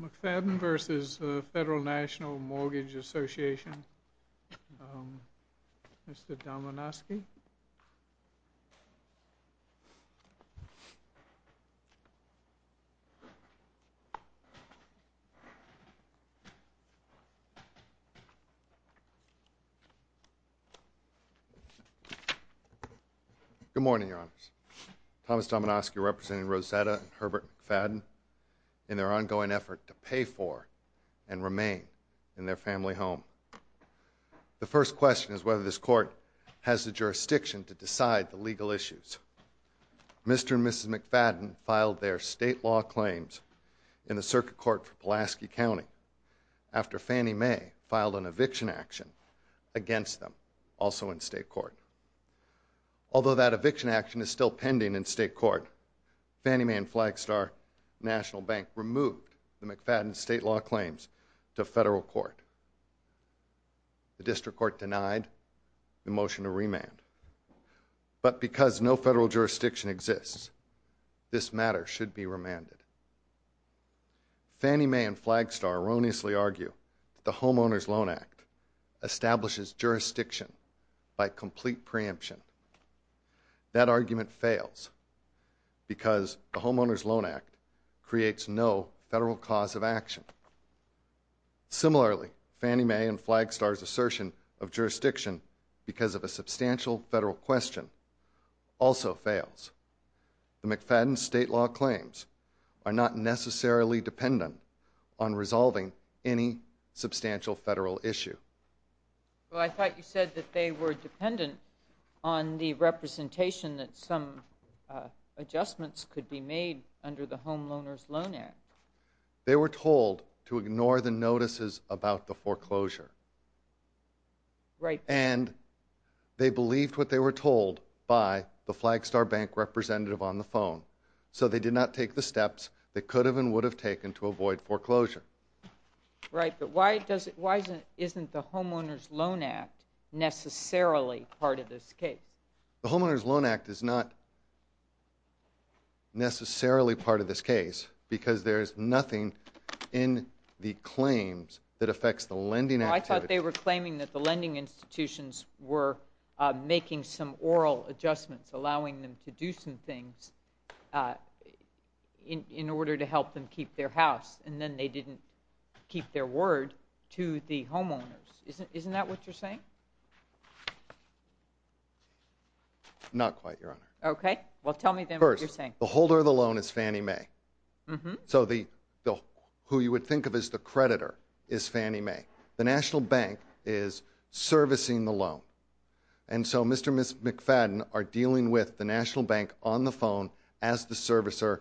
McFadden v. Federal National Mortgage Association. Mr. Domenoski. Good morning, Your Honors. Thomas Domenoski representing Rosetta and Herbert McFadden in their ongoing effort to pay for and remain in their family home. The first question is whether this court has the jurisdiction to decide the legal issues. Mr. and Mrs. McFadden filed their state law claims in the circuit court for Pulaski County after Fannie Mae filed an eviction action against them, also in state court. Although that eviction action is still pending in state court, Fannie Mae and Flagstar National Bank removed the McFadden's state law claims to federal court. The district court denied the motion to remand. But because no federal jurisdiction exists, this matter should be remanded. Fannie Mae and Flagstar erroneously argue that the Homeowners Loan Act establishes jurisdiction by complete preemption. That argument fails because the Homeowners Loan Act creates no federal cause of action. Similarly, Fannie Mae and Flagstar's assertion of jurisdiction because of a substantial federal question also fails. The McFadden's state law claims are not necessarily dependent on resolving any substantial federal issue. Well, I thought you said that they were dependent on the representation that some adjustments could be made under the Homeowners Loan Act. They were told to ignore the notices about the foreclosure. And they believed what they were told by the Flagstar bank representative on the phone. So they did not take the steps they could have and would have taken to avoid foreclosure. Right, but why isn't the Homeowners Loan Act necessarily part of this case? The Homeowners Loan Act is not necessarily part of this case because there is nothing in the claims that affects the lending activity. I thought they were claiming that the lending institutions were making some oral adjustments, allowing them to do some things in order to help them keep their house. And then they didn't keep their word to the homeowners. Isn't that what you're saying? Not quite, Your Honor. Okay. Well, tell me then what you're saying. First, the holder of the loan is Fannie Mae. So who you would think of as the creditor is Fannie Mae. The National Bank is servicing the loan. And so Mr. and Ms. McFadden are dealing with the National Bank on the phone as the servicer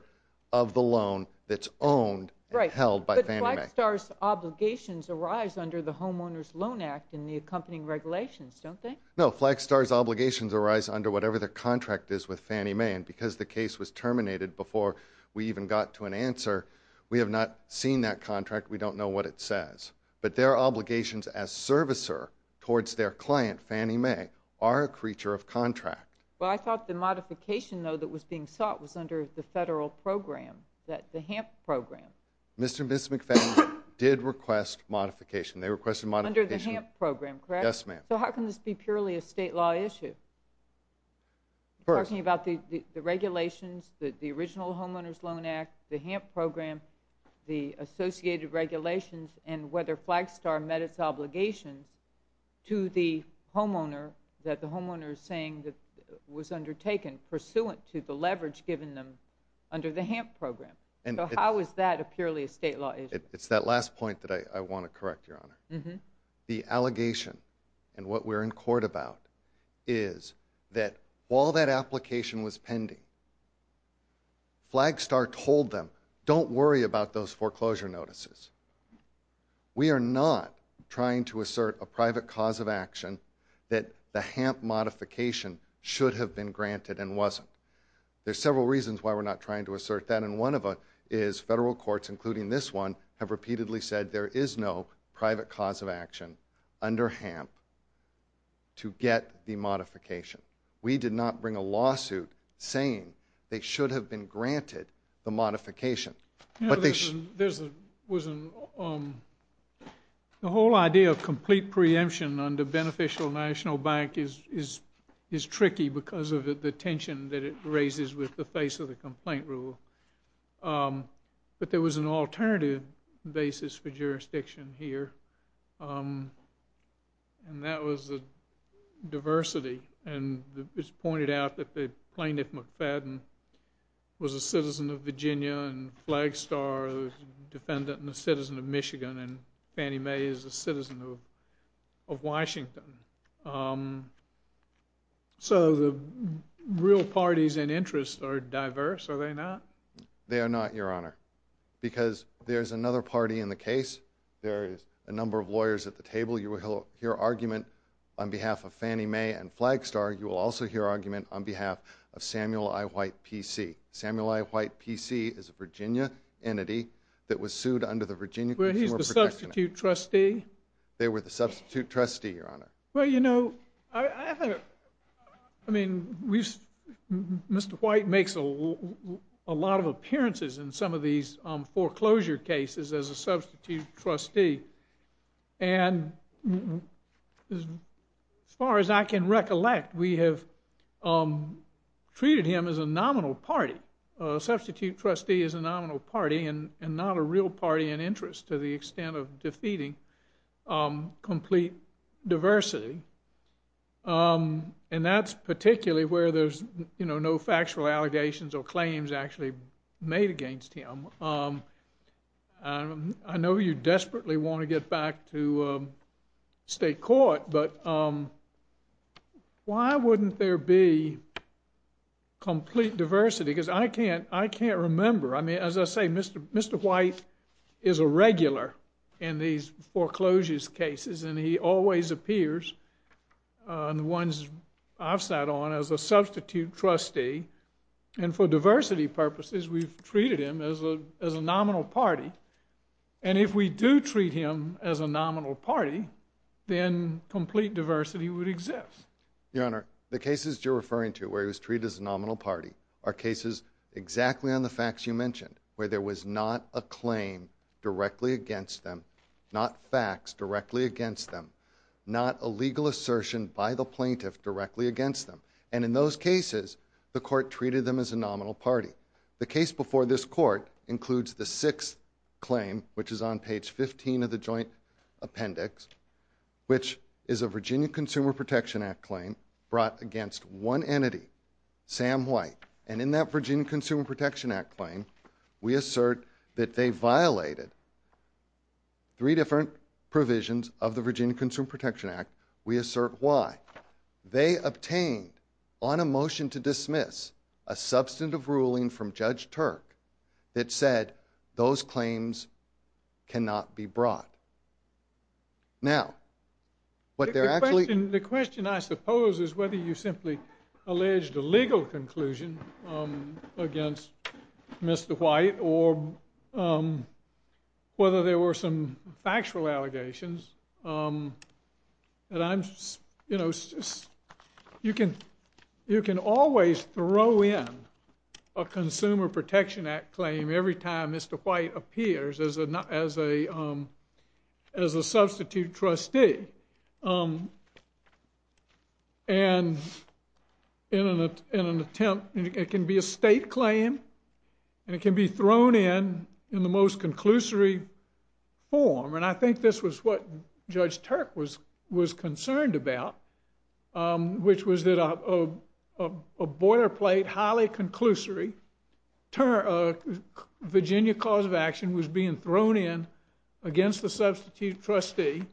of the loan that's owned and held by Fannie Mae. But Flagstar's obligations arise under the Homeowners Loan Act and the accompanying regulations, don't they? No, Flagstar's obligations arise under whatever their contract is with Fannie Mae. And because the case was terminated before we even got to an answer, we have not seen that contract. We don't know what it says. But their obligations as servicer towards their client, Fannie Mae, are a creature of contract. Well, I thought the modification, though, that was being sought was under the federal program, the HAMP program. Mr. and Ms. McFadden did request modification. They requested modification. Under the HAMP program, correct? Yes, ma'am. So how can this be purely a state law issue? First. You're talking about the regulations, the original Homeowners Loan Act, the HAMP program, the associated regulations, and whether Flagstar met its obligations to the homeowner that the homeowner is saying was undertaken pursuant to the leverage given them under the HAMP program. So how is that a purely a state law issue? It's that last point that I want to correct, Your Honor. The allegation and what we're in court about is that while that application was pending, Flagstar told them, don't worry about those foreclosure notices. We are not trying to assert a private cause of action that the HAMP modification should have been granted and wasn't. There's several reasons why we're not trying to assert that, and one of them is federal courts, including this one, have repeatedly said there is no private cause of action under HAMP to get the modification. We did not bring a lawsuit saying they should have been granted the modification. The whole idea of complete preemption under beneficial national bank is tricky because of the tension that it raises with the face of the complaint rule, but there was an alternative basis for jurisdiction here, and that was the diversity, and it's pointed out that the plaintiff, McFadden, was a citizen of Virginia and Flagstar, a defendant and a citizen of Michigan, and Fannie Mae is a citizen of Washington. So the real parties and interests are diverse, are they not? They are not, Your Honor, because there's another party in the case. There is a number of lawyers at the table. You will hear argument on behalf of Fannie Mae and Flagstar. You will also hear argument on behalf of Samuel I. White, P.C. Samuel I. White, P.C. is a Virginia entity that was sued under the Virginia Consumer Protection Act. Were he the substitute trustee? They were the substitute trustee, Your Honor. Well, you know, I mean, Mr. White makes a lot of appearances in some of these foreclosure cases as a substitute trustee, and as far as I can recollect, we have treated him as a nominal party, a substitute trustee as a nominal party and not a real party and interest to the extent of defeating complete diversity. And that's particularly where there's, you know, no factual allegations or claims actually made against him. I know you desperately want to get back to state court, but why wouldn't there be complete diversity? Because I can't remember. I mean, as I say, Mr. White is a regular in these foreclosures cases, and he always appears in the ones I've sat on as a substitute trustee. And for diversity purposes, we've treated him as a nominal party. And if we do treat him as a nominal party, then complete diversity would exist. Your Honor, the cases you're referring to where he was treated as a nominal party are cases exactly on the facts you mentioned, where there was not a claim directly against them, not facts directly against them, not a legal assertion by the plaintiff directly against them. And in those cases, the court treated them as a nominal party. The case before this court includes the sixth claim, which is on page 15 of the joint appendix, which is a Virginia Consumer Protection Act claim brought against one entity, Sam White. And in that Virginia Consumer Protection Act claim, we assert that they violated three different provisions of the Virginia Consumer Protection Act. We assert why. They obtained, on a motion to dismiss, a substantive ruling from Judge Turk that said those claims cannot be brought. Now, what they're actually- The question, I suppose, is whether you simply alleged a legal conclusion against Mr. White or whether there were some factual allegations. And I'm, you know, you can always throw in a Consumer Protection Act claim every time Mr. White appears as a substitute trustee. And in an attempt, it can be a state claim, and it can be thrown in in the most conclusory form. And I think this was what Judge Turk was concerned about, which was that a boilerplate, highly conclusory, Virginia cause of action was being thrown in against the substitute trustee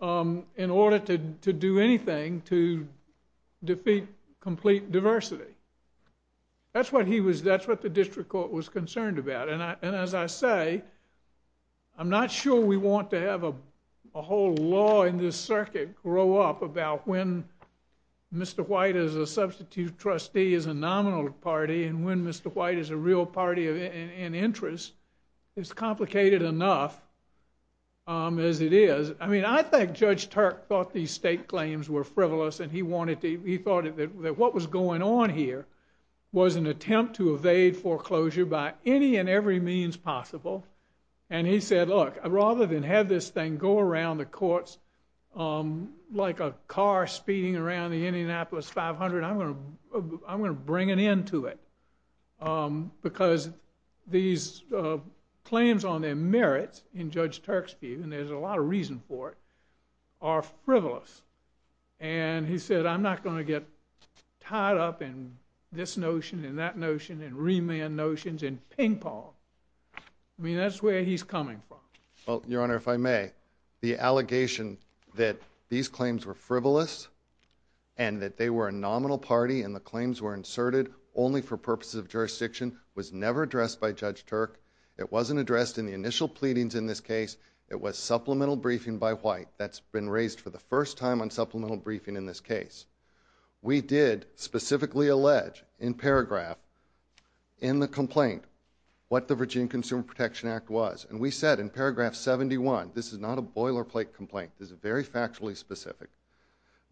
in order to do anything to defeat complete diversity. That's what he was- That's what the district court was concerned about. And as I say, I'm not sure we want to have a whole law in this circuit grow up about when Mr. White as a substitute trustee is a nominal party and when Mr. White is a real party in interest. It's complicated enough as it is. I mean, I think Judge Turk thought these state claims were frivolous, and he wanted to- He thought that what was going on here was an attempt to evade foreclosure by any and every means possible. And he said, look, rather than have this thing go around the courts like a car speeding around the Indianapolis 500, I'm going to bring an end to it because these claims on their merit in Judge Turk's view, and there's a lot of reason for it, are frivolous. And he said, I'm not going to get tied up in this notion and that notion and remand notions and ping-pong. I mean, that's where he's coming from. Well, Your Honor, if I may, the allegation that these claims were frivolous and that they were a nominal party and the claims were inserted only for purposes of jurisdiction was never addressed by Judge Turk. It wasn't addressed in the initial pleadings in this case. It was supplemental briefing by White. That's been raised for the first time on supplemental briefing in this case. We did specifically allege in paragraph in the complaint what the Virginia Consumer Protection Act was. And we said in paragraph 71, this is not a boilerplate complaint, this is very factually specific,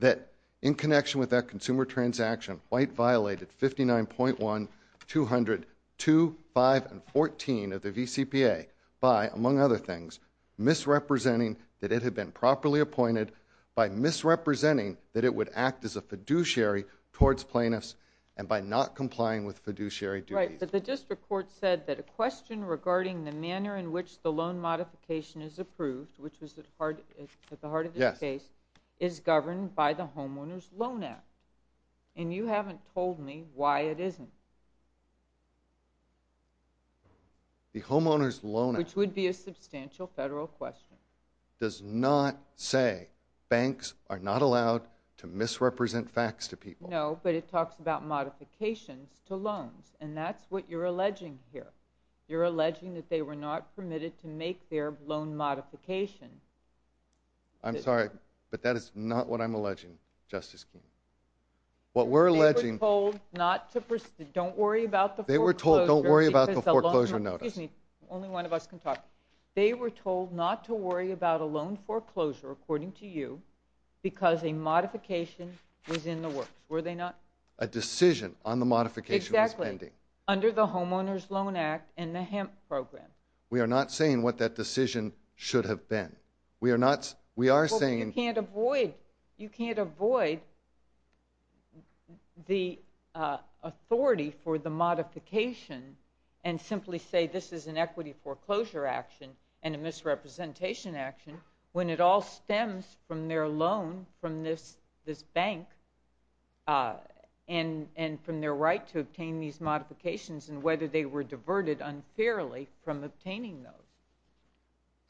that in connection with that consumer transaction, White violated 59.1, 200, 2, 5, and 14 of the VCPA by, among other things, misrepresenting that it had been properly by misrepresenting that it would act as a fiduciary towards plaintiffs and by not complying with fiduciary duties. Right. But the district court said that a question regarding the manner in which the loan modification is approved, which was at the heart of this case, is governed by the Homeowners Loan Act. And you haven't told me why it isn't. The Homeowners Loan Act Which would be a substantial federal question. Does not say banks are not allowed to misrepresent facts to people. No, but it talks about modifications to loans. And that's what you're alleging here. You're alleging that they were not permitted to make their loan modification. I'm sorry, but that is not what I'm alleging, Justice Keene. What we're alleging They were told not to, don't worry about the foreclosure Don't worry about the foreclosure notice. Excuse me, only one of us can talk. They were told not to worry about a loan foreclosure, according to you, because a modification was in the works. Were they not? A decision on the modification was pending. Exactly. Under the Homeowners Loan Act and the HEMP program. We are not saying what that decision should have been. We are not, we are saying But you can't avoid, you can't avoid the authority for the modification and simply say this is an equity foreclosure action and a misrepresentation action when it all stems from their loan from this bank and from their right to obtain these modifications and whether they were diverted unfairly from obtaining those.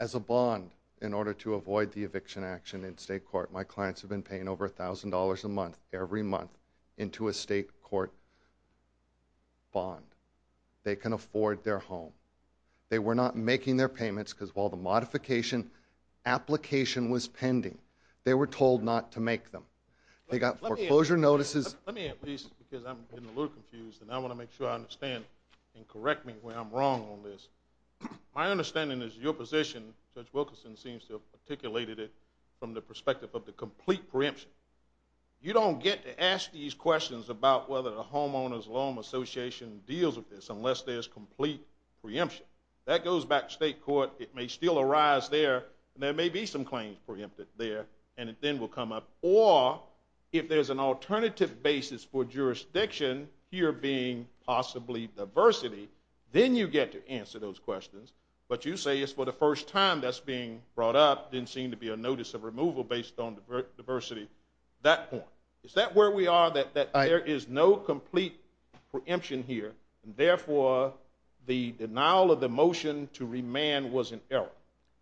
As a bond, in order to avoid the eviction action in state court, my clients have been paying over $1,000 a month, every month, into a state court bond. They can afford their home. They were not making their payments because while the modification application was pending, they were told not to make them. They got foreclosure notices. Let me at least, because I'm getting a little confused and I want to make sure I understand and correct me when I'm wrong on this. My understanding is your position, Judge Wilkinson seems to have articulated it from the perspective of the complete preemption. You don't get to ask these questions about whether the Homeowners Loan Association deals with this unless there's complete preemption. That goes back to state court. It may still arise there and there may be some claims preempted there and it then will come up. Or if there's an alternative basis for jurisdiction here being possibly diversity, then you get to answer those questions. But you say it's for the first time that's being brought up, didn't seem to be a notice of removal based on diversity at that point. Is that where we are that there is no complete preemption here and therefore the denial of the motion to remand was an error?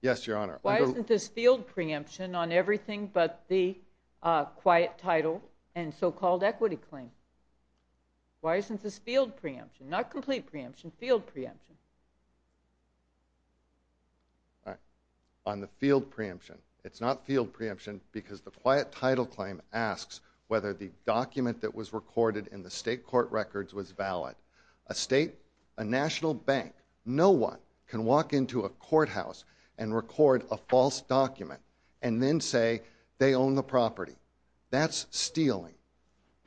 Yes, Your Honor. Why isn't this field preemption on everything but the quiet title and so-called equity claim? Why isn't this field preemption? Not complete preemption, field preemption. On the field preemption. It's not field preemption because the quiet title claim asks whether the document that was recorded in the state court records was valid. A state, a national bank, no one can walk into a courthouse and record a false document and then say they own the property. That's stealing.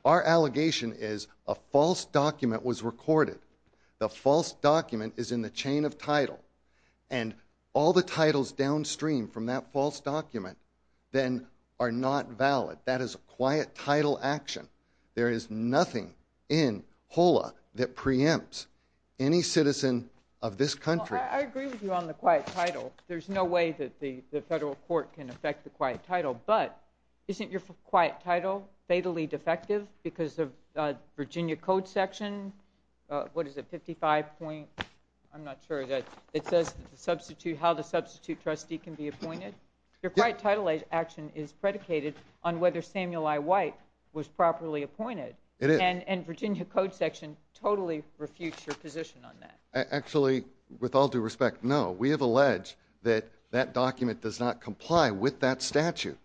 Our allegation is a false document was recorded. The false document is in the chain of title. And all the titles downstream from that false document then are not valid. That is a quiet title action. There is nothing in HOLA that preempts any citizen of this country. I agree with you on the quiet title. There's no way that the federal court can affect the quiet title. But isn't your quiet title fatally defective because of Virginia Code section, what is it, 55 point? I'm not sure. It says how the substitute trustee can be appointed. Your quiet title action is predicated on whether Samuel I. White was properly appointed. And Virginia Code section totally refutes your position on that. Actually, with all due respect, no. We have alleged that that document does not comply with that statute.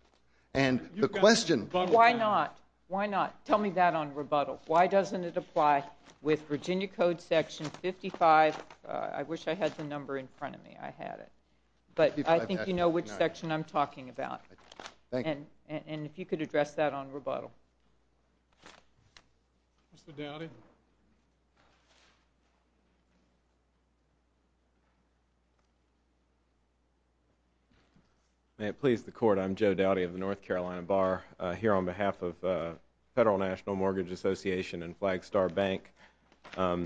And the question. Why not? Why not? Tell me that on rebuttal. Why doesn't it apply with Virginia Code section 55? I wish I had the number in front of me. I had it. But I think you know which section I'm talking about. And if you could address that on rebuttal. Mr. Doughty. May it please the court, I'm Joe Doughty of the North Carolina Bar. Here on behalf of Federal National Mortgage Association and Flagstar Bank. I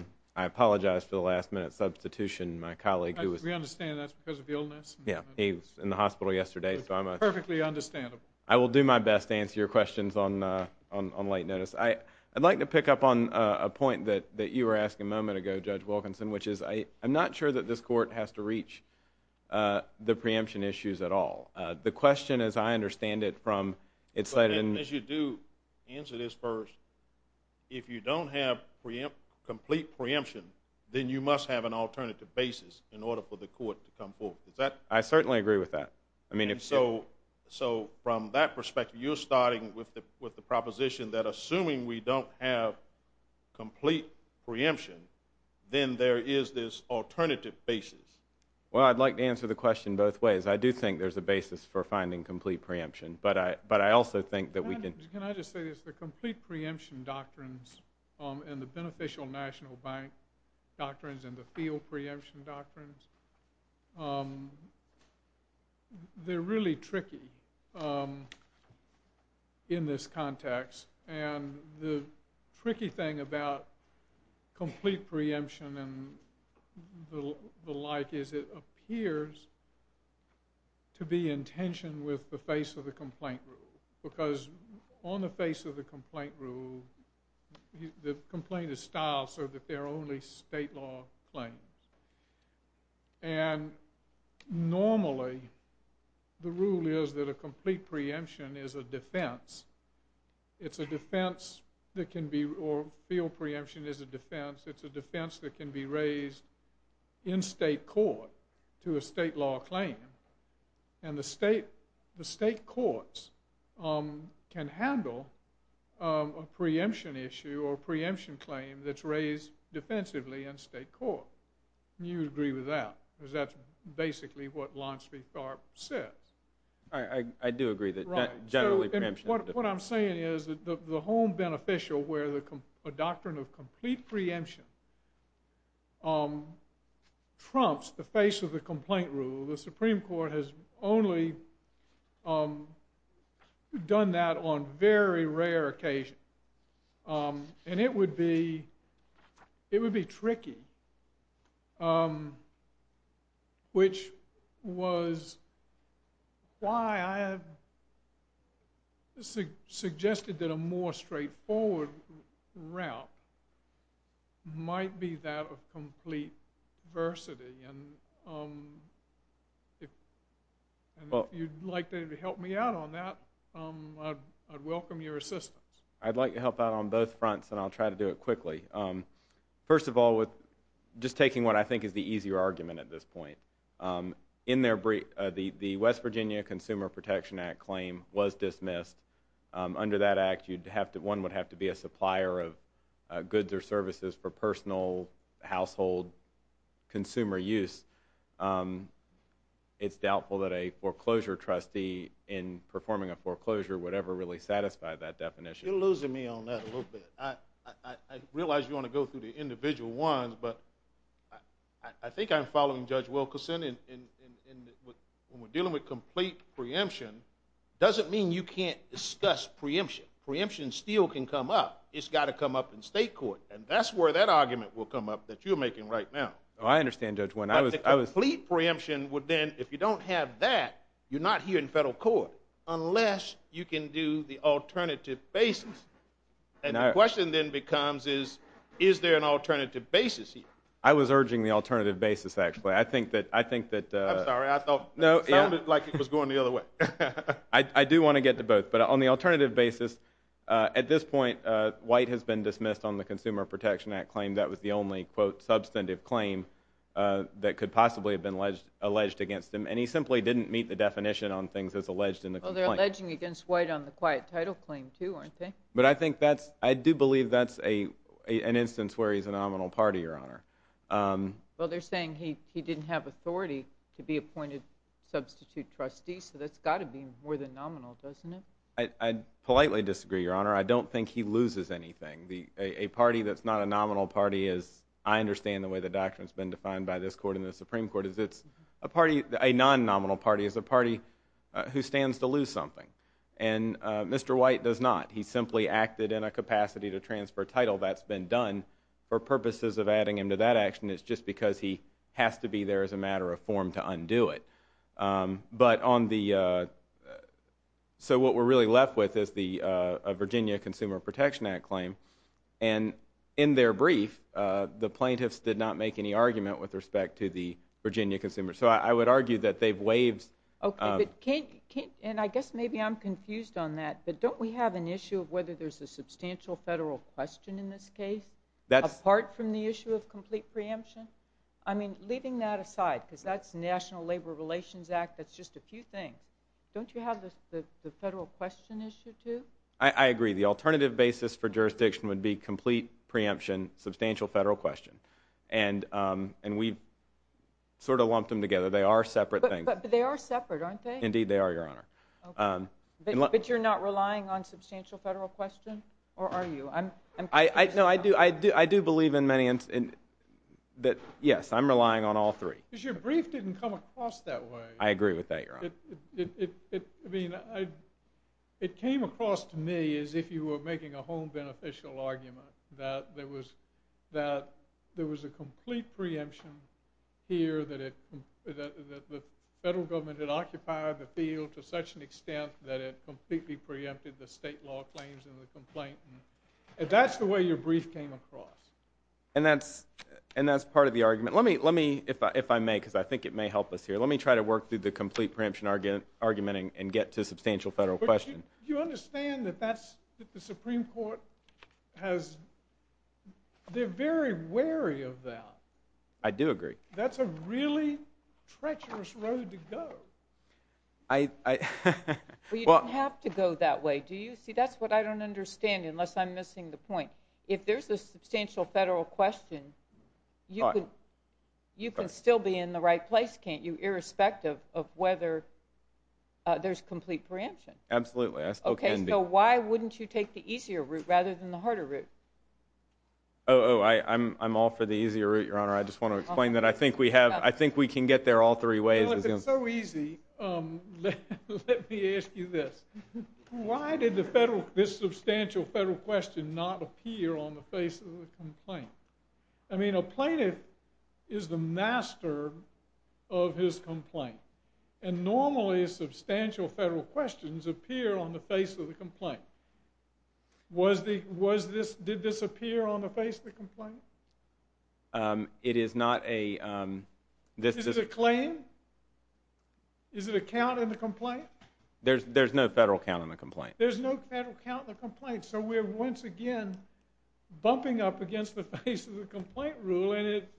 apologize for the last minute substitution. My colleague who was. We understand that's because of the illness. Yeah. He was in the hospital yesterday. So I'm a. Perfectly understandable. I will do my best to answer your questions on late notice. I'd like to pick up on a point that you were asking a moment ago, Judge Wilkinson, which is I'm not sure that this court has to reach the preemption issues at all. The question is, I understand it from it's like. And as you do answer this first, if you don't have preempt, complete preemption, then you must have an alternative basis in order for the court to come forward. Is that. I certainly agree with that. I mean, if so. So from that perspective, you're starting with the with the proposition that assuming we don't have complete preemption, then there is this alternative basis. Well, I'd like to answer the question both ways. I do think there's a basis for finding complete preemption, but I but I also think that we can. Can I just say this? The complete preemption doctrines and the beneficial national bank doctrines and the field preemption doctrines. They're really tricky. In this context and the tricky thing about complete preemption and the like is it appears to be in tension with the face of the complaint rule, because on the face of the complaint rule, the complaint is styled so that they're only state law claims. And normally the rule is that a complete preemption is a defense. It's a defense that can be or field preemption is a defense. It's a defense that can be raised in state court to a state law claim. And the state courts can handle a preemption issue or preemption claim that's raised defensively in state court. And you would agree with that, because that's basically what Lansby-Tharpe says. I do agree that generally preemption. What I'm saying is that the home beneficial where a doctrine of complete preemption trumps the face of the complaint rule, the Supreme Court has only done that on very rare occasions. And it would be tricky, which was why I suggested that a more straightforward route might be that of complete diversity. And if you'd like to help me out on that, I'd welcome your assistance. I'd like to help out on both fronts, and I'll try to do it quickly. First of all, just taking what I think is the easier argument at this point, the West Virginia Consumer Protection Act claim was dismissed. Under that act, one would have to be a supplier of goods or services for personal, household, consumer use. It's doubtful that a foreclosure trustee in performing a foreclosure would ever really satisfy that definition. You're losing me on that a little bit. I realize you want to go through the individual ones, but I think I'm following Judge Wilkerson. When we're dealing with complete preemption, it doesn't mean you can't discuss preemption. Preemption still can come up. It's got to come up in state court. And that's where that argument will come up that you're making right now. Oh, I understand, Judge Wynn. I was... But the complete preemption would then, if you don't have that, you're not here in federal court unless you can do the alternative basis. And the question then becomes is, is there an alternative basis here? I was urging the alternative basis, actually. I think that... I'm sorry. I thought... No, yeah. It sounded like it was going the other way. I do want to get to both. But on the alternative basis, at this point, White has been dismissed on the Consumer Protection Act claim. That was the only, quote, substantive claim that could possibly have been alleged against him. And he simply didn't meet the definition on things that's alleged in the complaint. Well, they're alleging against White on the quiet title claim, too, aren't they? But I think that's... I do believe that's an instance where he's a nominal party, Your Honor. Well, they're saying he didn't have authority to be appointed substitute trustee. So that's got to be more than nominal, doesn't it? I politely disagree, Your Honor. I don't think he loses anything. A party that's not a nominal party is... I understand the way the doctrine's been defined by this court and the Supreme Court, is it's a party... A non-nominal party is a party who stands to lose something. And Mr. White does not. He simply acted in a capacity to transfer title. That's been done for purposes of adding him to that action. It's just because he has to be there as a matter of form to undo it. But on the... So what we're really left with is the Virginia Consumer Protection Act claim. And in their brief, the plaintiffs did not make any argument with respect to the Virginia consumer. So I would argue that they've waived... Okay. But can't... And I guess maybe I'm confused on that, but don't we have an issue of whether there's a substantial federal question in this case, apart from the issue of complete preemption? I mean, leaving that aside, because that's the National Labor Relations Act, that's just a few things. Don't you have the federal question issue too? I agree. The alternative basis for jurisdiction would be complete preemption, substantial federal question. And we've sort of lumped them together. They are separate things. But they are separate, aren't they? Indeed, they are, Your Honor. Okay. But you're not relying on substantial federal question? Or are you? I'm confused on that. No, I do believe in many... Yes, I'm relying on all three. Because your brief didn't come across that way. I agree with that, Your Honor. I mean, it came across to me as if you were making a home beneficial argument, that there was a complete preemption here, that the federal government had occupied the field to such an extent that it completely preempted the state law claims in the complaint. That's the way your brief came across. And that's part of the argument. Let me, if I may, because I think it may help us here, let me try to work through the complete preemption argument and get to substantial federal question. Do you understand that that's, that the Supreme Court has, they're very wary of that? I do agree. That's a really treacherous road to go. I... Well, you don't have to go that way. Do you? See, that's what I don't understand, unless I'm missing the point. If there's a substantial federal question, you can still be in the right place, can't you? Irrespective of whether there's complete preemption. Absolutely. I still can be. Okay, so why wouldn't you take the easier route rather than the harder route? Oh, I'm all for the easier route, Your Honor. I just want to explain that. I think we have, I think we can get there all three ways. Well, if it's so easy, let me ask you this. Why did the federal, this substantial federal question not appear on the face of the complaint? I mean, a plaintiff is the master of his complaint. And normally, substantial federal questions appear on the face of the complaint. Was the, was this, did this appear on the face of the complaint? It is not a... This is a claim? Is it a count in the complaint? There's no federal count in the complaint. There's no federal count in the complaint. So we're once again bumping up against the face of the complaint rule, and it,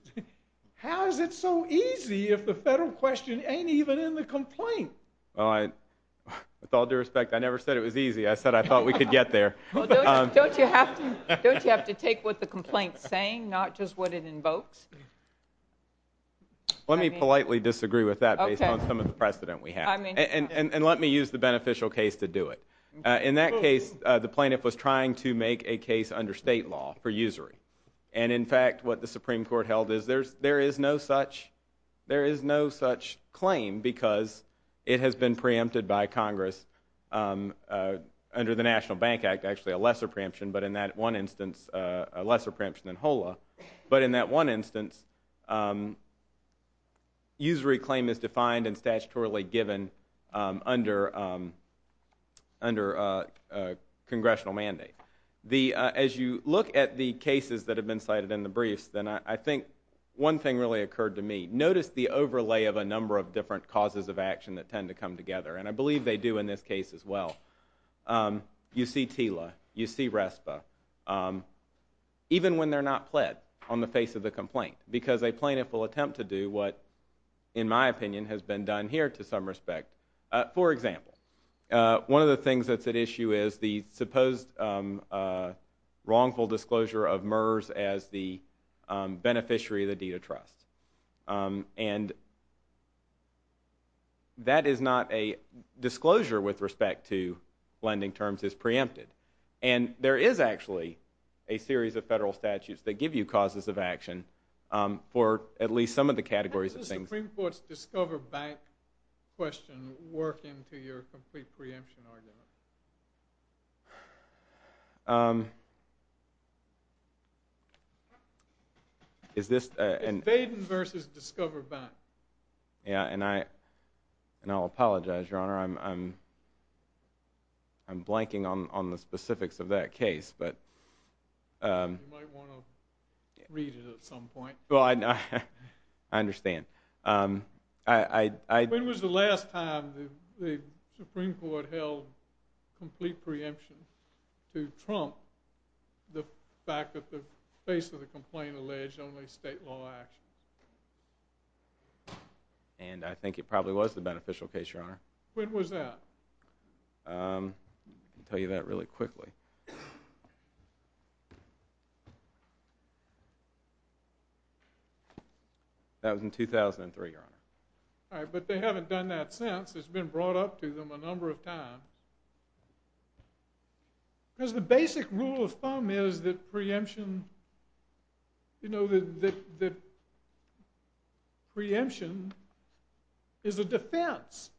how is it so easy if the federal question ain't even in the complaint? Well, I, with all due respect, I never said it was easy. I said I thought we could get there. Well, don't you have to, don't you have to take what the complaint's saying, not just what it invokes? Let me politely disagree with that based on some of the precedent we have. And let me use the beneficial case to do it. In that case, the plaintiff was trying to make a case under state law for usury. And in fact, what the Supreme Court held is there's, there is no such, there is no such claim because it has been preempted by Congress under the National Bank Act, actually a lesser preemption, but in that one instance, a lesser preemption than HOLA. But in that one instance, usury claim is defined and statutorily given under, under a congressional mandate. The, as you look at the cases that have been cited in the briefs, then I think one thing really occurred to me, notice the overlay of a number of different causes of action that tend to come together. And I believe they do in this case as well. You see TILA, you see RESPA, even when they're not pled on the face of the complaint, because a plaintiff will attempt to do what, in my opinion, has been done here to some respect. For example, one of the things that's at issue is the supposed wrongful disclosure of MERS as the beneficiary of the deed of trust. And that is not a disclosure with respect to lending terms is preempted. And there is actually a series of federal statutes that give you causes of action for at least some of the categories of things. Does the Supreme Court's Discover Bank question work into your complete preemption argument? Is this a... It's Faden versus Discover Bank. Yeah, and I, and I'll apologize, Your Honor, I'm, I'm blanking on the specifics of that case, but... You might want to read it at some point. Well, I, I understand. I, I... When was the last time the Supreme Court held complete preemption to trump the fact that the face of the complaint alleged only state law action? And I think it probably was the beneficial case, Your Honor. When was that? I can tell you that really quickly. That was in 2003, Your Honor. All right, but they haven't done that since. It's been brought up to them a number of times. Because the basic rule of thumb is that preemption, you know, that, that preemption is a defense.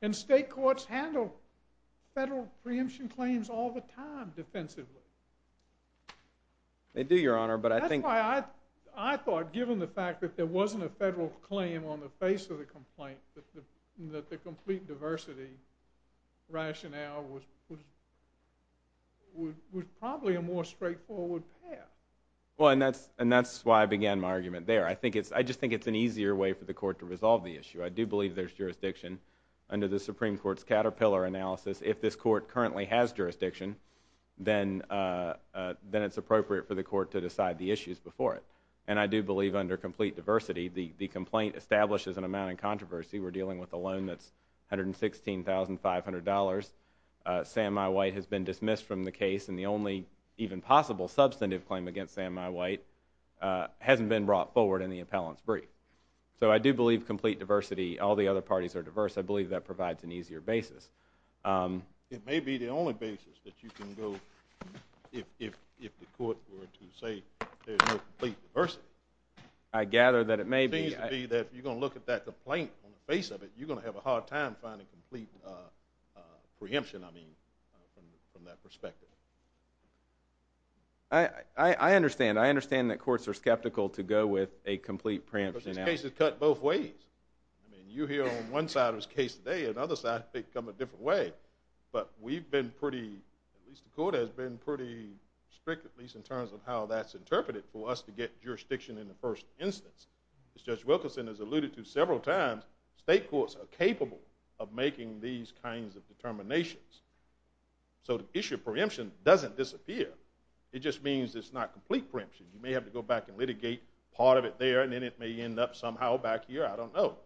And state courts handle federal preemption claims all the time defensively. They do, Your Honor, but I think... I thought, given the fact that there wasn't a federal claim on the face of the complaint, that the complete diversity rationale was, was, was probably a more straightforward path. Well, and that's, and that's why I began my argument there. I think it's, I just think it's an easier way for the court to resolve the issue. I do believe there's jurisdiction under the Supreme Court's caterpillar analysis. If this court currently has jurisdiction, then, then it's appropriate for the court to decide the issues before it. And I do believe under complete diversity, the, the complaint establishes an amount in controversy. We're dealing with a loan that's $116,500. Sam I. White has been dismissed from the case, and the only even possible substantive claim against Sam I. White hasn't been brought forward in the appellant's brief. So I do believe complete diversity, all the other parties are diverse. I believe that provides an easier basis. It may be the only basis that you can go if, if, if the court were to say there's no complete diversity. I gather that it may be. It seems to be that if you're going to look at that complaint on the face of it, you're going to have a hard time finding complete preemption, I mean, from that perspective. I, I, I understand. I understand that courts are skeptical to go with a complete preemption. But this case is cut both ways. I mean, you hear on one side of this case today, and on the other side, they come a different way. But we've been pretty, at least the court has been pretty strict, at least in terms of how that's interpreted, for us to get jurisdiction in the first instance. As Judge Wilkinson has alluded to several times, state courts are capable of making these kinds of determinations. So the issue of preemption doesn't disappear. It just means it's not complete preemption. You may have to go back and litigate part of it there, and then it may end up somehow back here, I don't know.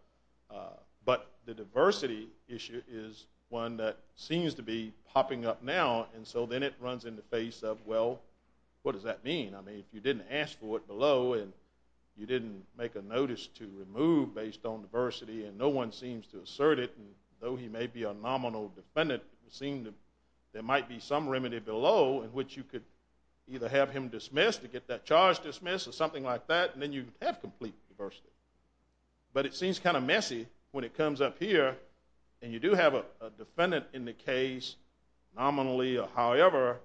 But the diversity issue is one that seems to be popping up now, and so then it runs in the face of, well, what does that mean? I mean, if you didn't ask for it below, and you didn't make a notice to remove based on diversity, and no one seems to assert it, and though he may be a nominal defendant, it would seem that there might be some remedy below in which you could either have him dismissed, or get that charge dismissed, or something like that, and then you'd have complete diversity. But it seems kind of messy when it comes up here, and you do have a defendant in the case, nominally or however,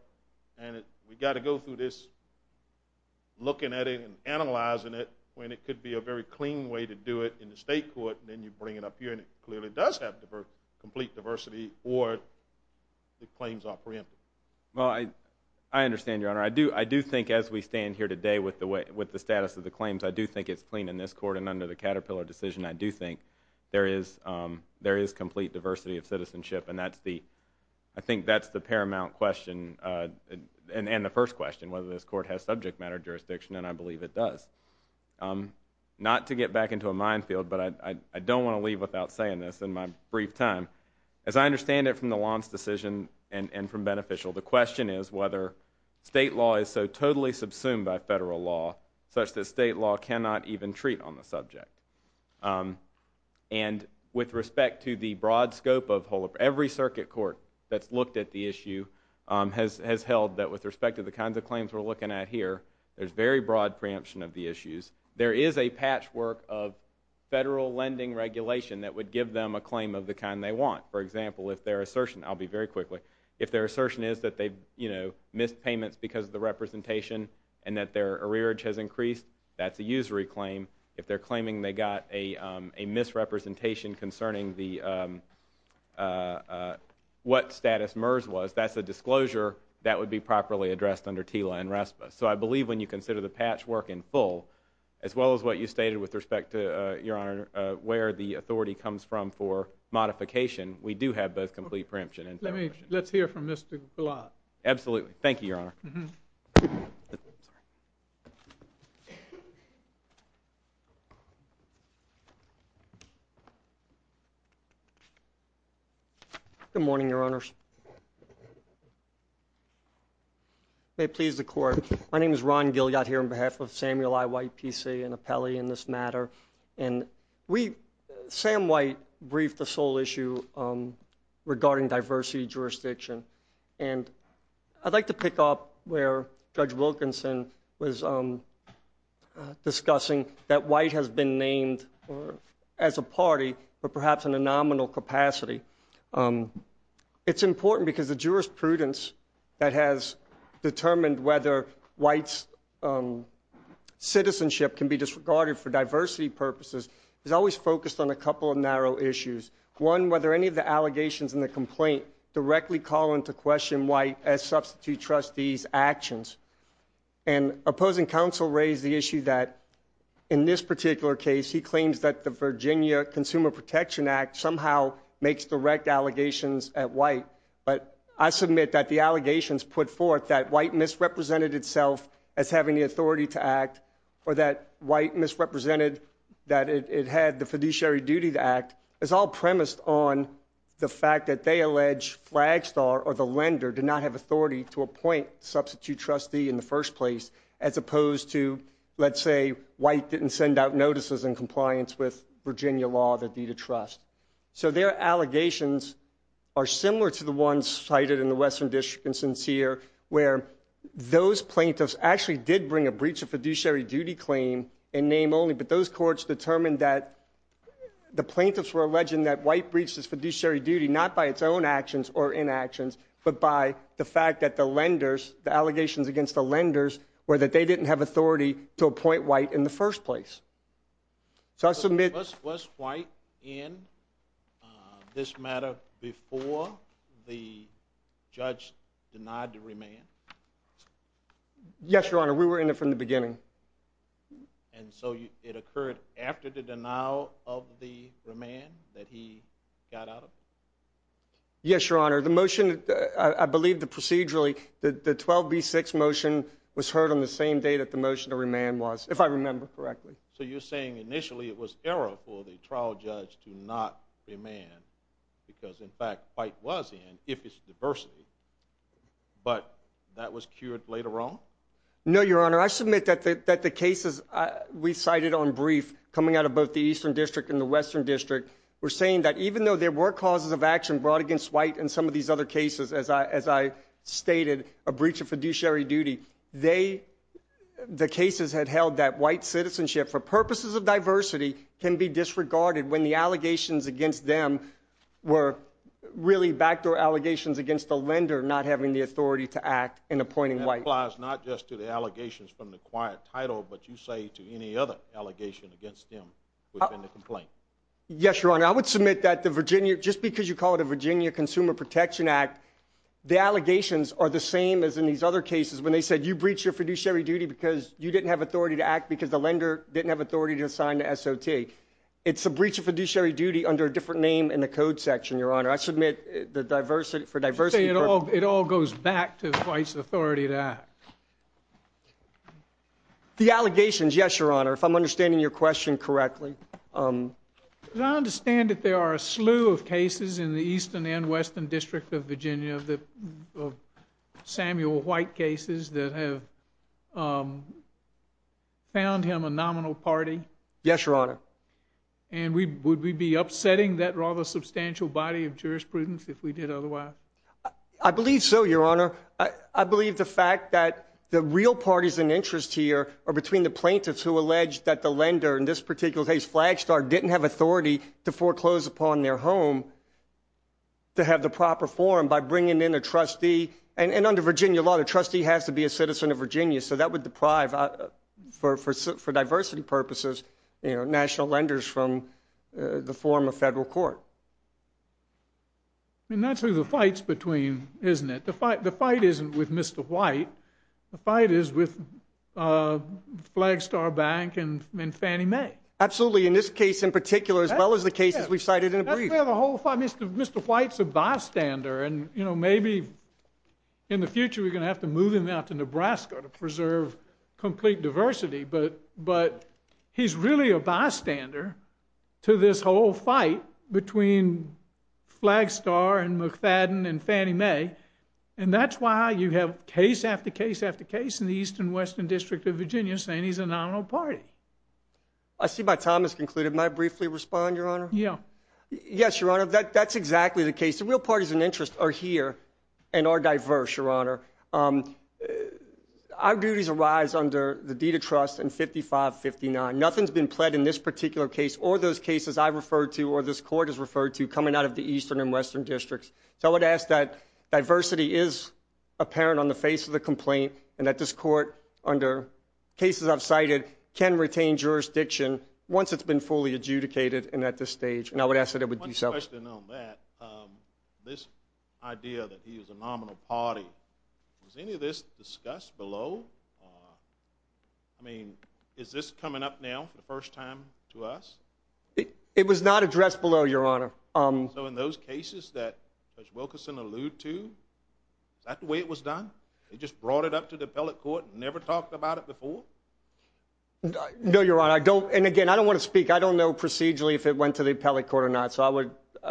and we've got to go through this looking at it and analyzing it when it could be a very clean way to do it in the state court, and then you bring it up here, and it clearly does have complete diversity, or the claims are preempted. Well, I understand, Your Honor. I do think as we stand here today with the status of the claims, I do think it's clean in this court, and under the Caterpillar decision, I do think there is complete diversity of citizenship, and I think that's the paramount question, and the first question, whether this court has subject matter jurisdiction, and I believe it does. Not to get back into a minefield, but I don't want to leave without saying this in my brief time. As I understand it from the Lam's decision and from Beneficial, the question is whether state law is so totally subsumed by federal law such that state law cannot even treat on the subject. And with respect to the broad scope of every circuit court that's looked at the issue has held that with respect to the kinds of claims we're looking at here, there's very broad preemption of the issues. There is a patchwork of federal lending regulation that would give them a claim of the kind they want. For example, if their assertion, I'll be very quick, if their assertion is that they missed payments because of the representation and that their arrearage has increased, that's a usury claim. If they're claiming they got a misrepresentation concerning what status MERS was, that's a disclosure that would be properly addressed under TILA and RESPA. So I believe when you consider the patchwork in full, as well as what you stated with respect to where the authority comes from for modification, we do have both complete preemption. Let's hear from Mr. Gulott. Absolutely. Thank you, Your Honor. Good morning, Your Honors. May it please the Court. My name is Ron Gilyot here on behalf of Samuel I. White, PC, an appellee in this matter. And we... discuss the sole issue regarding diversity jurisdiction. And I'd like to pick up where Judge Wilkinson was discussing that White has been named as a party but perhaps in a nominal capacity. It's important because the jurisprudence that has determined whether White's citizenship can be disregarded for diversity purposes is always focused on a couple of narrow issues. One, whether any of the allegations in the complaint directly call into question White as substitute trustee's actions. And opposing counsel raised the issue that in this particular case, he claims that the Virginia Consumer Protection Act somehow makes direct allegations at White. But I submit that the allegations put forth that White misrepresented itself as having the authority to act or that White misrepresented that it had the fiduciary duty to act, is all premised on the fact that they allege Flagstar or the lender did not have authority to appoint substitute trustee in the first place as opposed to, let's say, White didn't send out notices in compliance with Virginia law that deed of trust. So their allegations are similar to the ones cited in the Western District in Sincere where those plaintiffs actually did bring a breach of fiduciary duty claim in name only, but those courts determined that the plaintiffs were alleging that White breached his fiduciary duty, not by its own actions or inactions, but by the fact that the lenders, the allegations against the lenders, were that they didn't have authority to appoint White in the first place. So I submit Was White in this matter before the judge denied to remain? Yes, Your Honor. We were in it from the beginning. And so it occurred after the denial of the remand that he got out of it? Yes, Your Honor. The motion, I believe the procedurally, the 12B6 motion was heard on the same day that the motion to remand was, if I remember correctly. So you're saying initially it was error for the trial judge to not remand, because in fact White was in, if it's diversity, but that was cured later on? No, Your Honor. I submit that the cases we cited on brief, coming out of both the Eastern District and the Western District, were saying that even though there were causes of action brought against White in some of these other cases, as I stated, a breach of fiduciary duty, they, the cases had held that White citizenship for purposes of diversity can be disregarded when the allegations against them were really backdoor allegations against the lender not having the authority to act in appointing White. That applies not just to the allegations from the quiet title, but you say to any other allegation against them within the complaint. Yes, Your Honor. I would submit that the Virginia, just because you call it a Virginia Consumer Protection Act, the allegations are the same as in these other cases when they said you breached your fiduciary duty because you didn't have authority to act because the lender didn't have authority to sign the SOT. It's a breach of fiduciary duty under a code section, Your Honor. I submit for diversity purposes... You say it all goes back to White's authority to act. The allegations, yes, Your Honor, if I'm understanding your question correctly. I understand that there are a slew of cases in the Eastern and Western District of Virginia of Samuel White cases that have found him a nominal party. Yes, Your Honor. And would we be upsetting that rather substantial body of jurisprudence if we did otherwise? I believe so, Your Honor. I believe the fact that the real parties in interest here are between the plaintiffs who allege that the lender in this particular case, Flagstar, didn't have authority to foreclose upon their home to have the proper forum by bringing in a trustee, and under Virginia law, the trustee has to be a citizen of Virginia, so that would deprive, for diversity purposes, national lenders from the form of federal court. And that's who the fight's between, isn't it? The fight isn't with Mr. White. The fight is with Flagstar Bank and Fannie Mae. Absolutely. In this case in particular, as well as the cases we've cited in a brief. Mr. White's a bystander and maybe in the future we're going to have to move him out to complete diversity, but he's really a bystander to this whole fight between Flagstar and McFadden and Fannie Mae and that's why you have case after case after case in the Eastern and Western District of Virginia saying he's a nominal party. I see my time has concluded. May I briefly respond, Your Honor? Yes, Your Honor. That's exactly the case. The real parties in interest are here and are diverse, Your Honor. Our duties arise under the deed of trust in 55-59. Nothing's been pled in this particular case or those cases I've referred to or this court has referred to coming out of the Eastern and Western Districts. So I would ask that diversity is apparent on the face of the complaint and that this court, under cases I've cited, can retain jurisdiction once it's been fully adjudicated and at this stage. One question on that. This idea that he is a nominal party. Was any of this discussed below? I mean, is this coming up now for the first time to us? It was not addressed below, Your Honor. So in those cases that Judge Wilkerson alluded to, is that the way it was done? They just brought it up to the appellate court and never talked about it before? No, Your Honor. I don't, and again, I don't want to speak. I don't know procedurally if it went to the appellate court or not.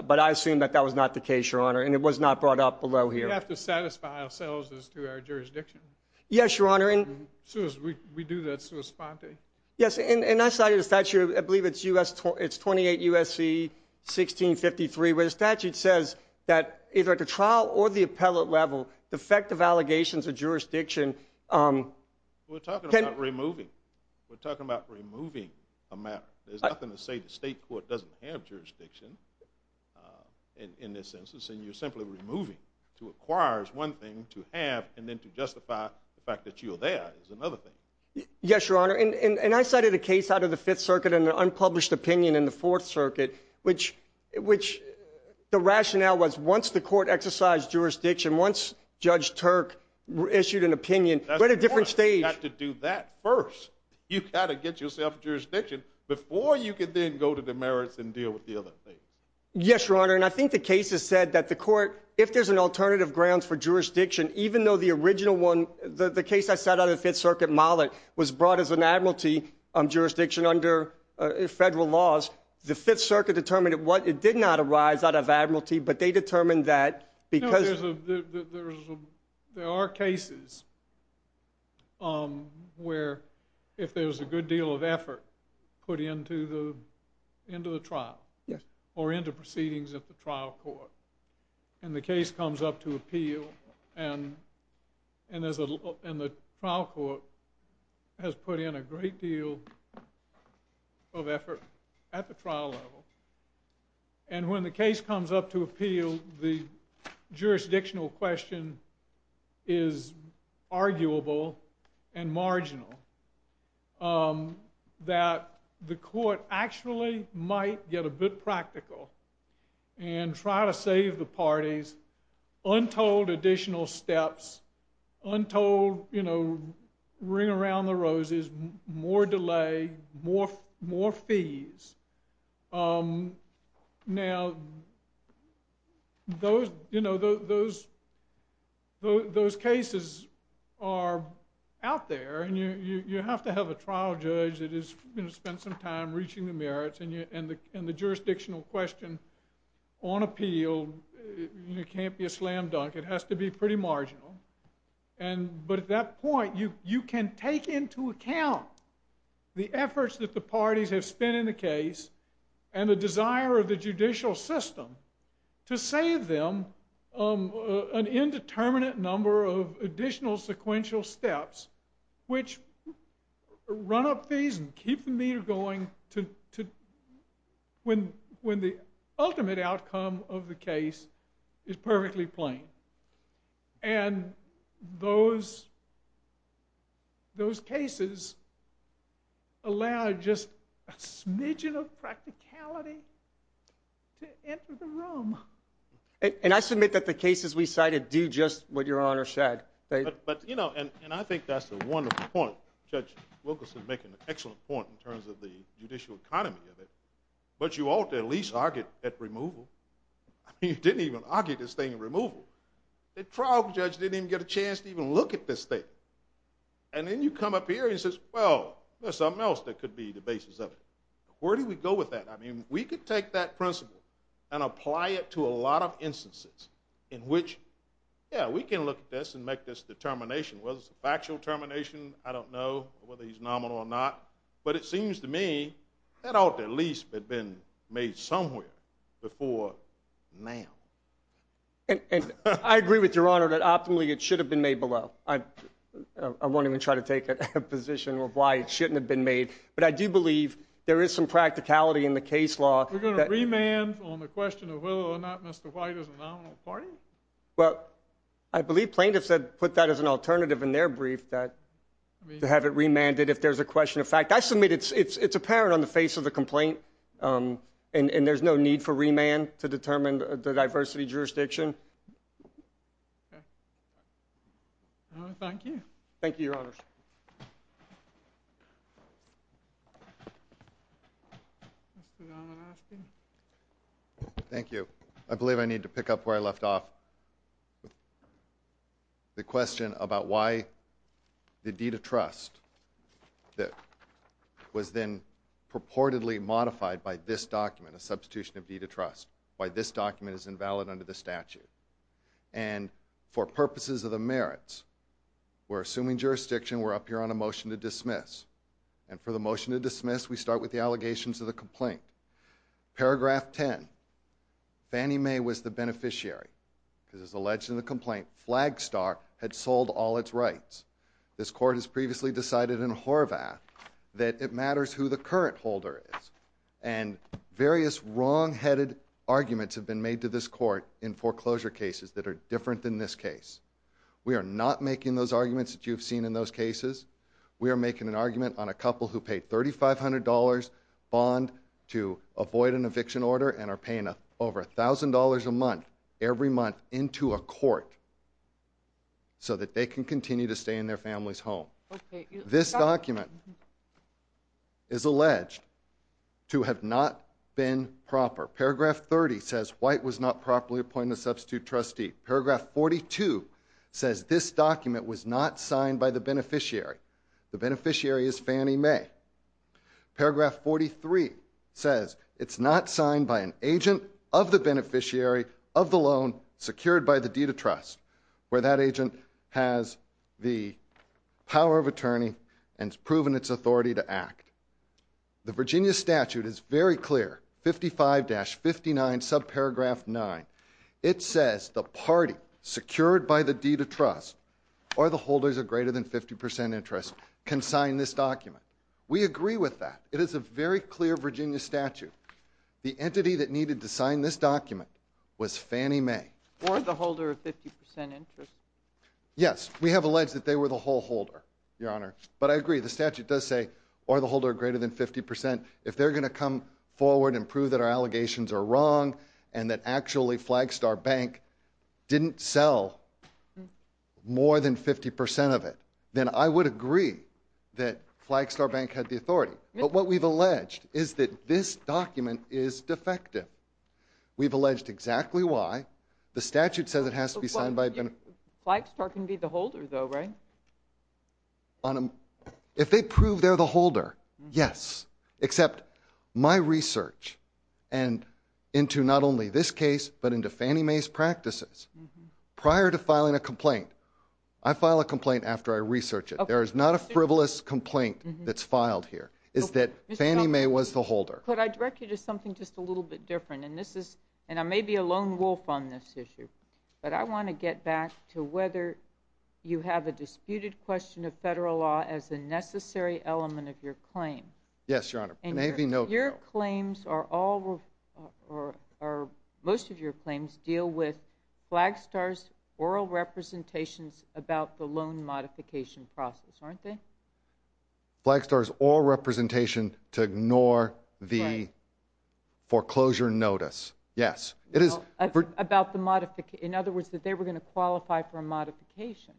But I assume that that was not the case, Your Honor, and it was not brought up below here. We have to satisfy ourselves as to our jurisdiction. Yes, Your Honor. We do that sui sponte. Yes, and I cited a statute, I believe it's 28 U.S.C. 1653, where the statute says that either at the trial or the appellate level, defective allegations of jurisdiction We're talking about removing. We're talking about removing a matter. There's nothing to say the state court doesn't have jurisdiction in this census and you're simply removing to acquire is one thing, to have and then to justify the fact that you're there is another thing. Yes, Your Honor, and I cited a case out of the Fifth Circuit and an unpublished opinion in the Fourth Circuit which the rationale was once the court exercised jurisdiction, once Judge Turk issued an opinion at a different stage. You've got to do that first. You've got to get yourself jurisdiction before you can then go to the merits and deal with the other things. Yes, Your Honor, and I think the case has said that the court, if there's an alternative grounds for jurisdiction, even though the original one, the case I cite out of the Fifth Circuit was brought as an admiralty jurisdiction under federal laws. The Fifth Circuit determined it did not arise out of admiralty, but they determined that because... There are cases where if there's a good deal of effort put into the trial or proceedings at the trial court and the case comes up to appeal and the trial court has put in a great deal of effort at the trial level and when the case comes up to appeal, the jurisdictional question is arguable and marginal that the court actually might get a bit practical and try to save the parties untold additional steps untold ring around the roses, more delay, more fees. Now those cases are out there and you have to have a trial judge that is going to spend some time reaching the merits and the jurisdictional question on appeal can't be a slam dunk. It has to be pretty marginal but at that point you can take into account the efforts that the parties have spent in the case and the desire of the judicial system to save them an indeterminate number of additional sequential steps which run up fees and keep the meter going when the ultimate outcome of the case is perfectly plain and those cases allow just a smidgen of practicality to enter the room. And I submit that the cases we cited do just what your honor said. But you know and I think that's a wonderful point. Judge Wilkerson making an excellent point in terms of the judicial economy of it but you ought to at least argue at removal I mean you didn't even argue this thing in removal. The trial judge didn't even get a chance to even look at this thing and then you come up here and says well there's something else that could be the basis of it. Where do we go with that? I mean we could take that principle and apply it to a lot of instances in which yeah we can look at this and make this determination whether it's a factual determination I don't know whether he's nominal or not but it seems to me that ought to at least have been made somewhere before now. I agree with your honor that optimally it should have been made below. I won't even try to take a position of why it shouldn't have been made but I do believe there is some practicality in the case law. We're going to remand on the question of whether or not Mr. White is a nominal party? Well I believe plaintiffs had put that as an alternative in their brief that to have it remanded if there's a question of fact. I submit it's apparent on the face of the complaint and there's no need for remand to determine the diversity jurisdiction. Thank you. Thank you your honors. Thank you. Thank you. I believe I need to pick up where I left off the question about why the deed of trust was then purportedly modified by this document a substitution of deed of trust why this document is invalid under the statute and for purposes of the merits we're assuming jurisdiction we're up here on a motion to dismiss and for the motion to dismiss we start with the allegations of the complaint paragraph 10 Fannie Mae was the beneficiary because it's alleged in the complaint Flagstar had sold all its rights this court has previously decided in Horvath that it matters who the current holder is and various wrong headed arguments have been made to this court in foreclosure cases that are different than this case. We are not making those arguments that you've seen in those cases we are making an argument on a couple who paid $3,500 bond to avoid an eviction order and are paying over $1,000 a month every month into a court so that they can continue to stay in their families home. This document is alleged to have not been proper. Paragraph 30 says White was not properly appointed substitute trustee. Paragraph 42 says this document was not signed by the beneficiary the beneficiary is Fannie Mae Paragraph 43 says it's not signed by an agent of the beneficiary of the loan secured by the deed of trust where that agent has the power of attorney and has proven its authority to act The Virginia statute is very clear. 55-59 subparagraph 9 it says the party secured by the deed of trust or the holders of greater than 50% interest can sign this document We agree with that. It is a very clear Virginia statute. The entity that needed to sign this document was Fannie Mae or the holder of 50% interest Yes, we have alleged that they were the whole holder, your honor, but I agree the statute does say or the holder of greater than 50% if they're going to come forward and prove that our allegations are wrong and that actually Flagstar Bank didn't sell more than 50% of it, then I would agree that Flagstar Bank had the authority, but what we've alleged is that this document is defective. We've alleged exactly why. The statute says it has to be signed by a beneficiary Flagstar can be the holder though, right? If they prove they're the holder, yes Except my research and into not only this case, but into Fannie Mae's practices, prior to filing a complaint, I file a complaint after I research it. There is not a frivolous complaint that's filed here. It's that Fannie Mae was the holder. Could I direct you to something just a little bit different and this is, and I may be a lone wolf on this issue but I want to get back to whether you have a disputed question of federal law as a necessary element of your claim. Yes, Your Honor. Your claims are all, or most of your claims deal with Flagstar's oral representations about the loan modification process, aren't they? Flagstar's oral representation to ignore the foreclosure notice, yes. It is about the modification, in other words that they were going to qualify for a modification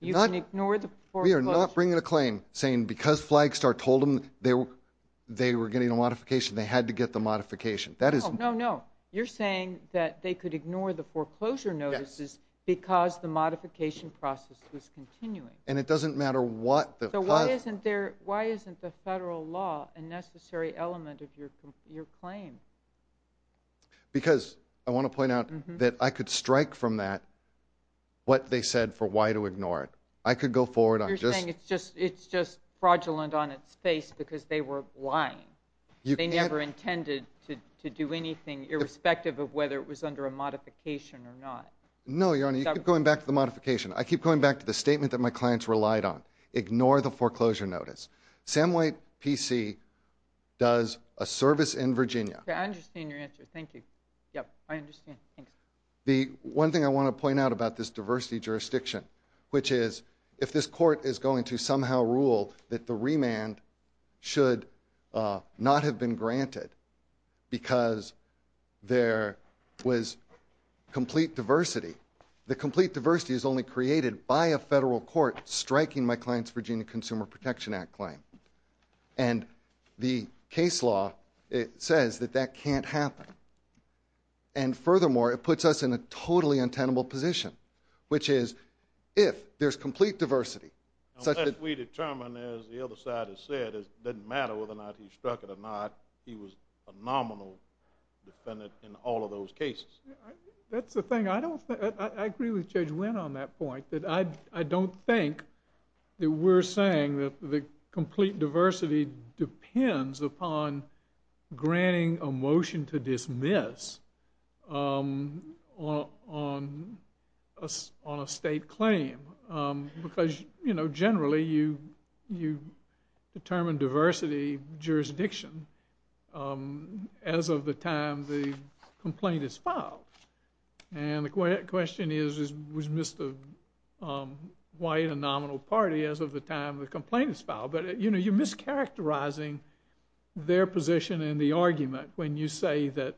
You can ignore the foreclosure. We are not bringing a claim saying because Flagstar told them they were getting a modification, they had to get the modification. No, no, no. You're saying that they could ignore the foreclosure notices because the modification process was continuing. And it doesn't matter what the So why isn't there, why isn't the federal law a necessary element of your claim? Because, I want to point out that I could strike from that what they said for why to ignore it. I could go forward. You're saying it's just fraudulent on its face because they were lying. They never intended to do anything irrespective of whether it was under a modification or not. No, Your Honor. You keep going back to the modification. I keep going back to the statement that my clients relied on. Ignore the foreclosure notice. Sam White PC does a service in Virginia. I understand your answer. Thank you. The one thing I want to point out about this diversity jurisdiction which is, if this court is going to somehow rule that the remand should not have been granted because there was complete diversity. The complete diversity is only created by a federal court striking my client's Virginia Consumer Protection Act claim. And the case law says that that can't happen. And furthermore, it puts us in a totally untenable position which is, if there's complete diversity Unless we determine, as the other side has said, it doesn't matter whether or not he struck it or not. He was a nominal defendant in all of those cases. That's the thing. I agree with Judge Wynn on that point. I don't think that we're saying that the complete diversity depends upon granting a motion to on a state claim because, you know, generally you determine diversity jurisdiction as of the time the complaint is filed. And the question is, was Mr. White a nominal party as of the time the complaint is filed? But, you know, you're mischaracterizing their position in the argument when you say that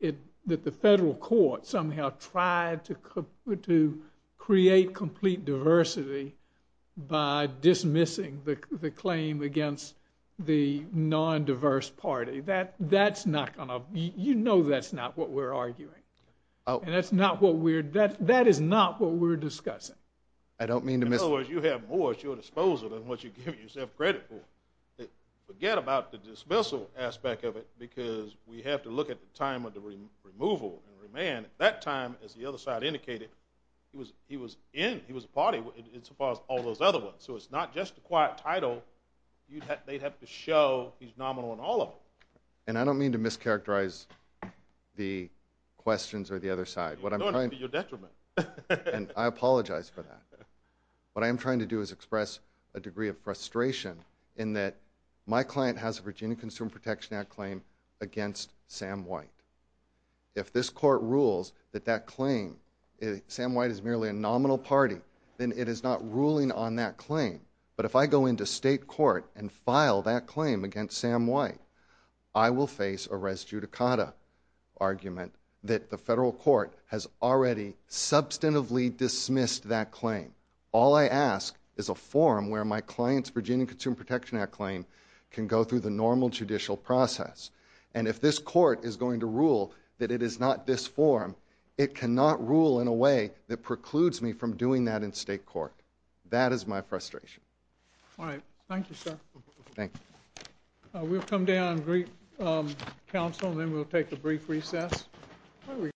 the federal court somehow tried to create complete diversity by dismissing the claim against the non-diverse party. That's not gonna you know that's not what we're arguing. And that's not what we're that is not what we're discussing. In other words, you have more at your disposal than what you're giving yourself credit for. Forget about the dismissal aspect of it because we have to look at the time of the removal and remand. At that time as the other side indicated he was in, he was a party as far as all those other ones. So it's not just a quiet title. They'd have to show he's nominal in all of them. And I don't mean to mischaracterize the questions or the other side. You're doing it to your detriment. And I apologize for that. What I am trying to do is express a degree of frustration in that my client has a Virginia Consumer Protection Act claim against Sam White. If this court rules that that claim Sam White is merely a nominal party, then it is not ruling on that claim. But if I go into state court and file that claim against Sam White I will face a res judicata argument that the federal court has already substantively dismissed that claim. All I ask is a forum where my client's Virginia Consumer Protection Act claim can go through the normal judicial process. And if this court is going to rule that it is not this forum, it cannot rule in a way that precludes me from doing that in state court. That is my frustration. Alright. Thank you, sir. We'll come down and greet counsel and then we'll take a brief recess.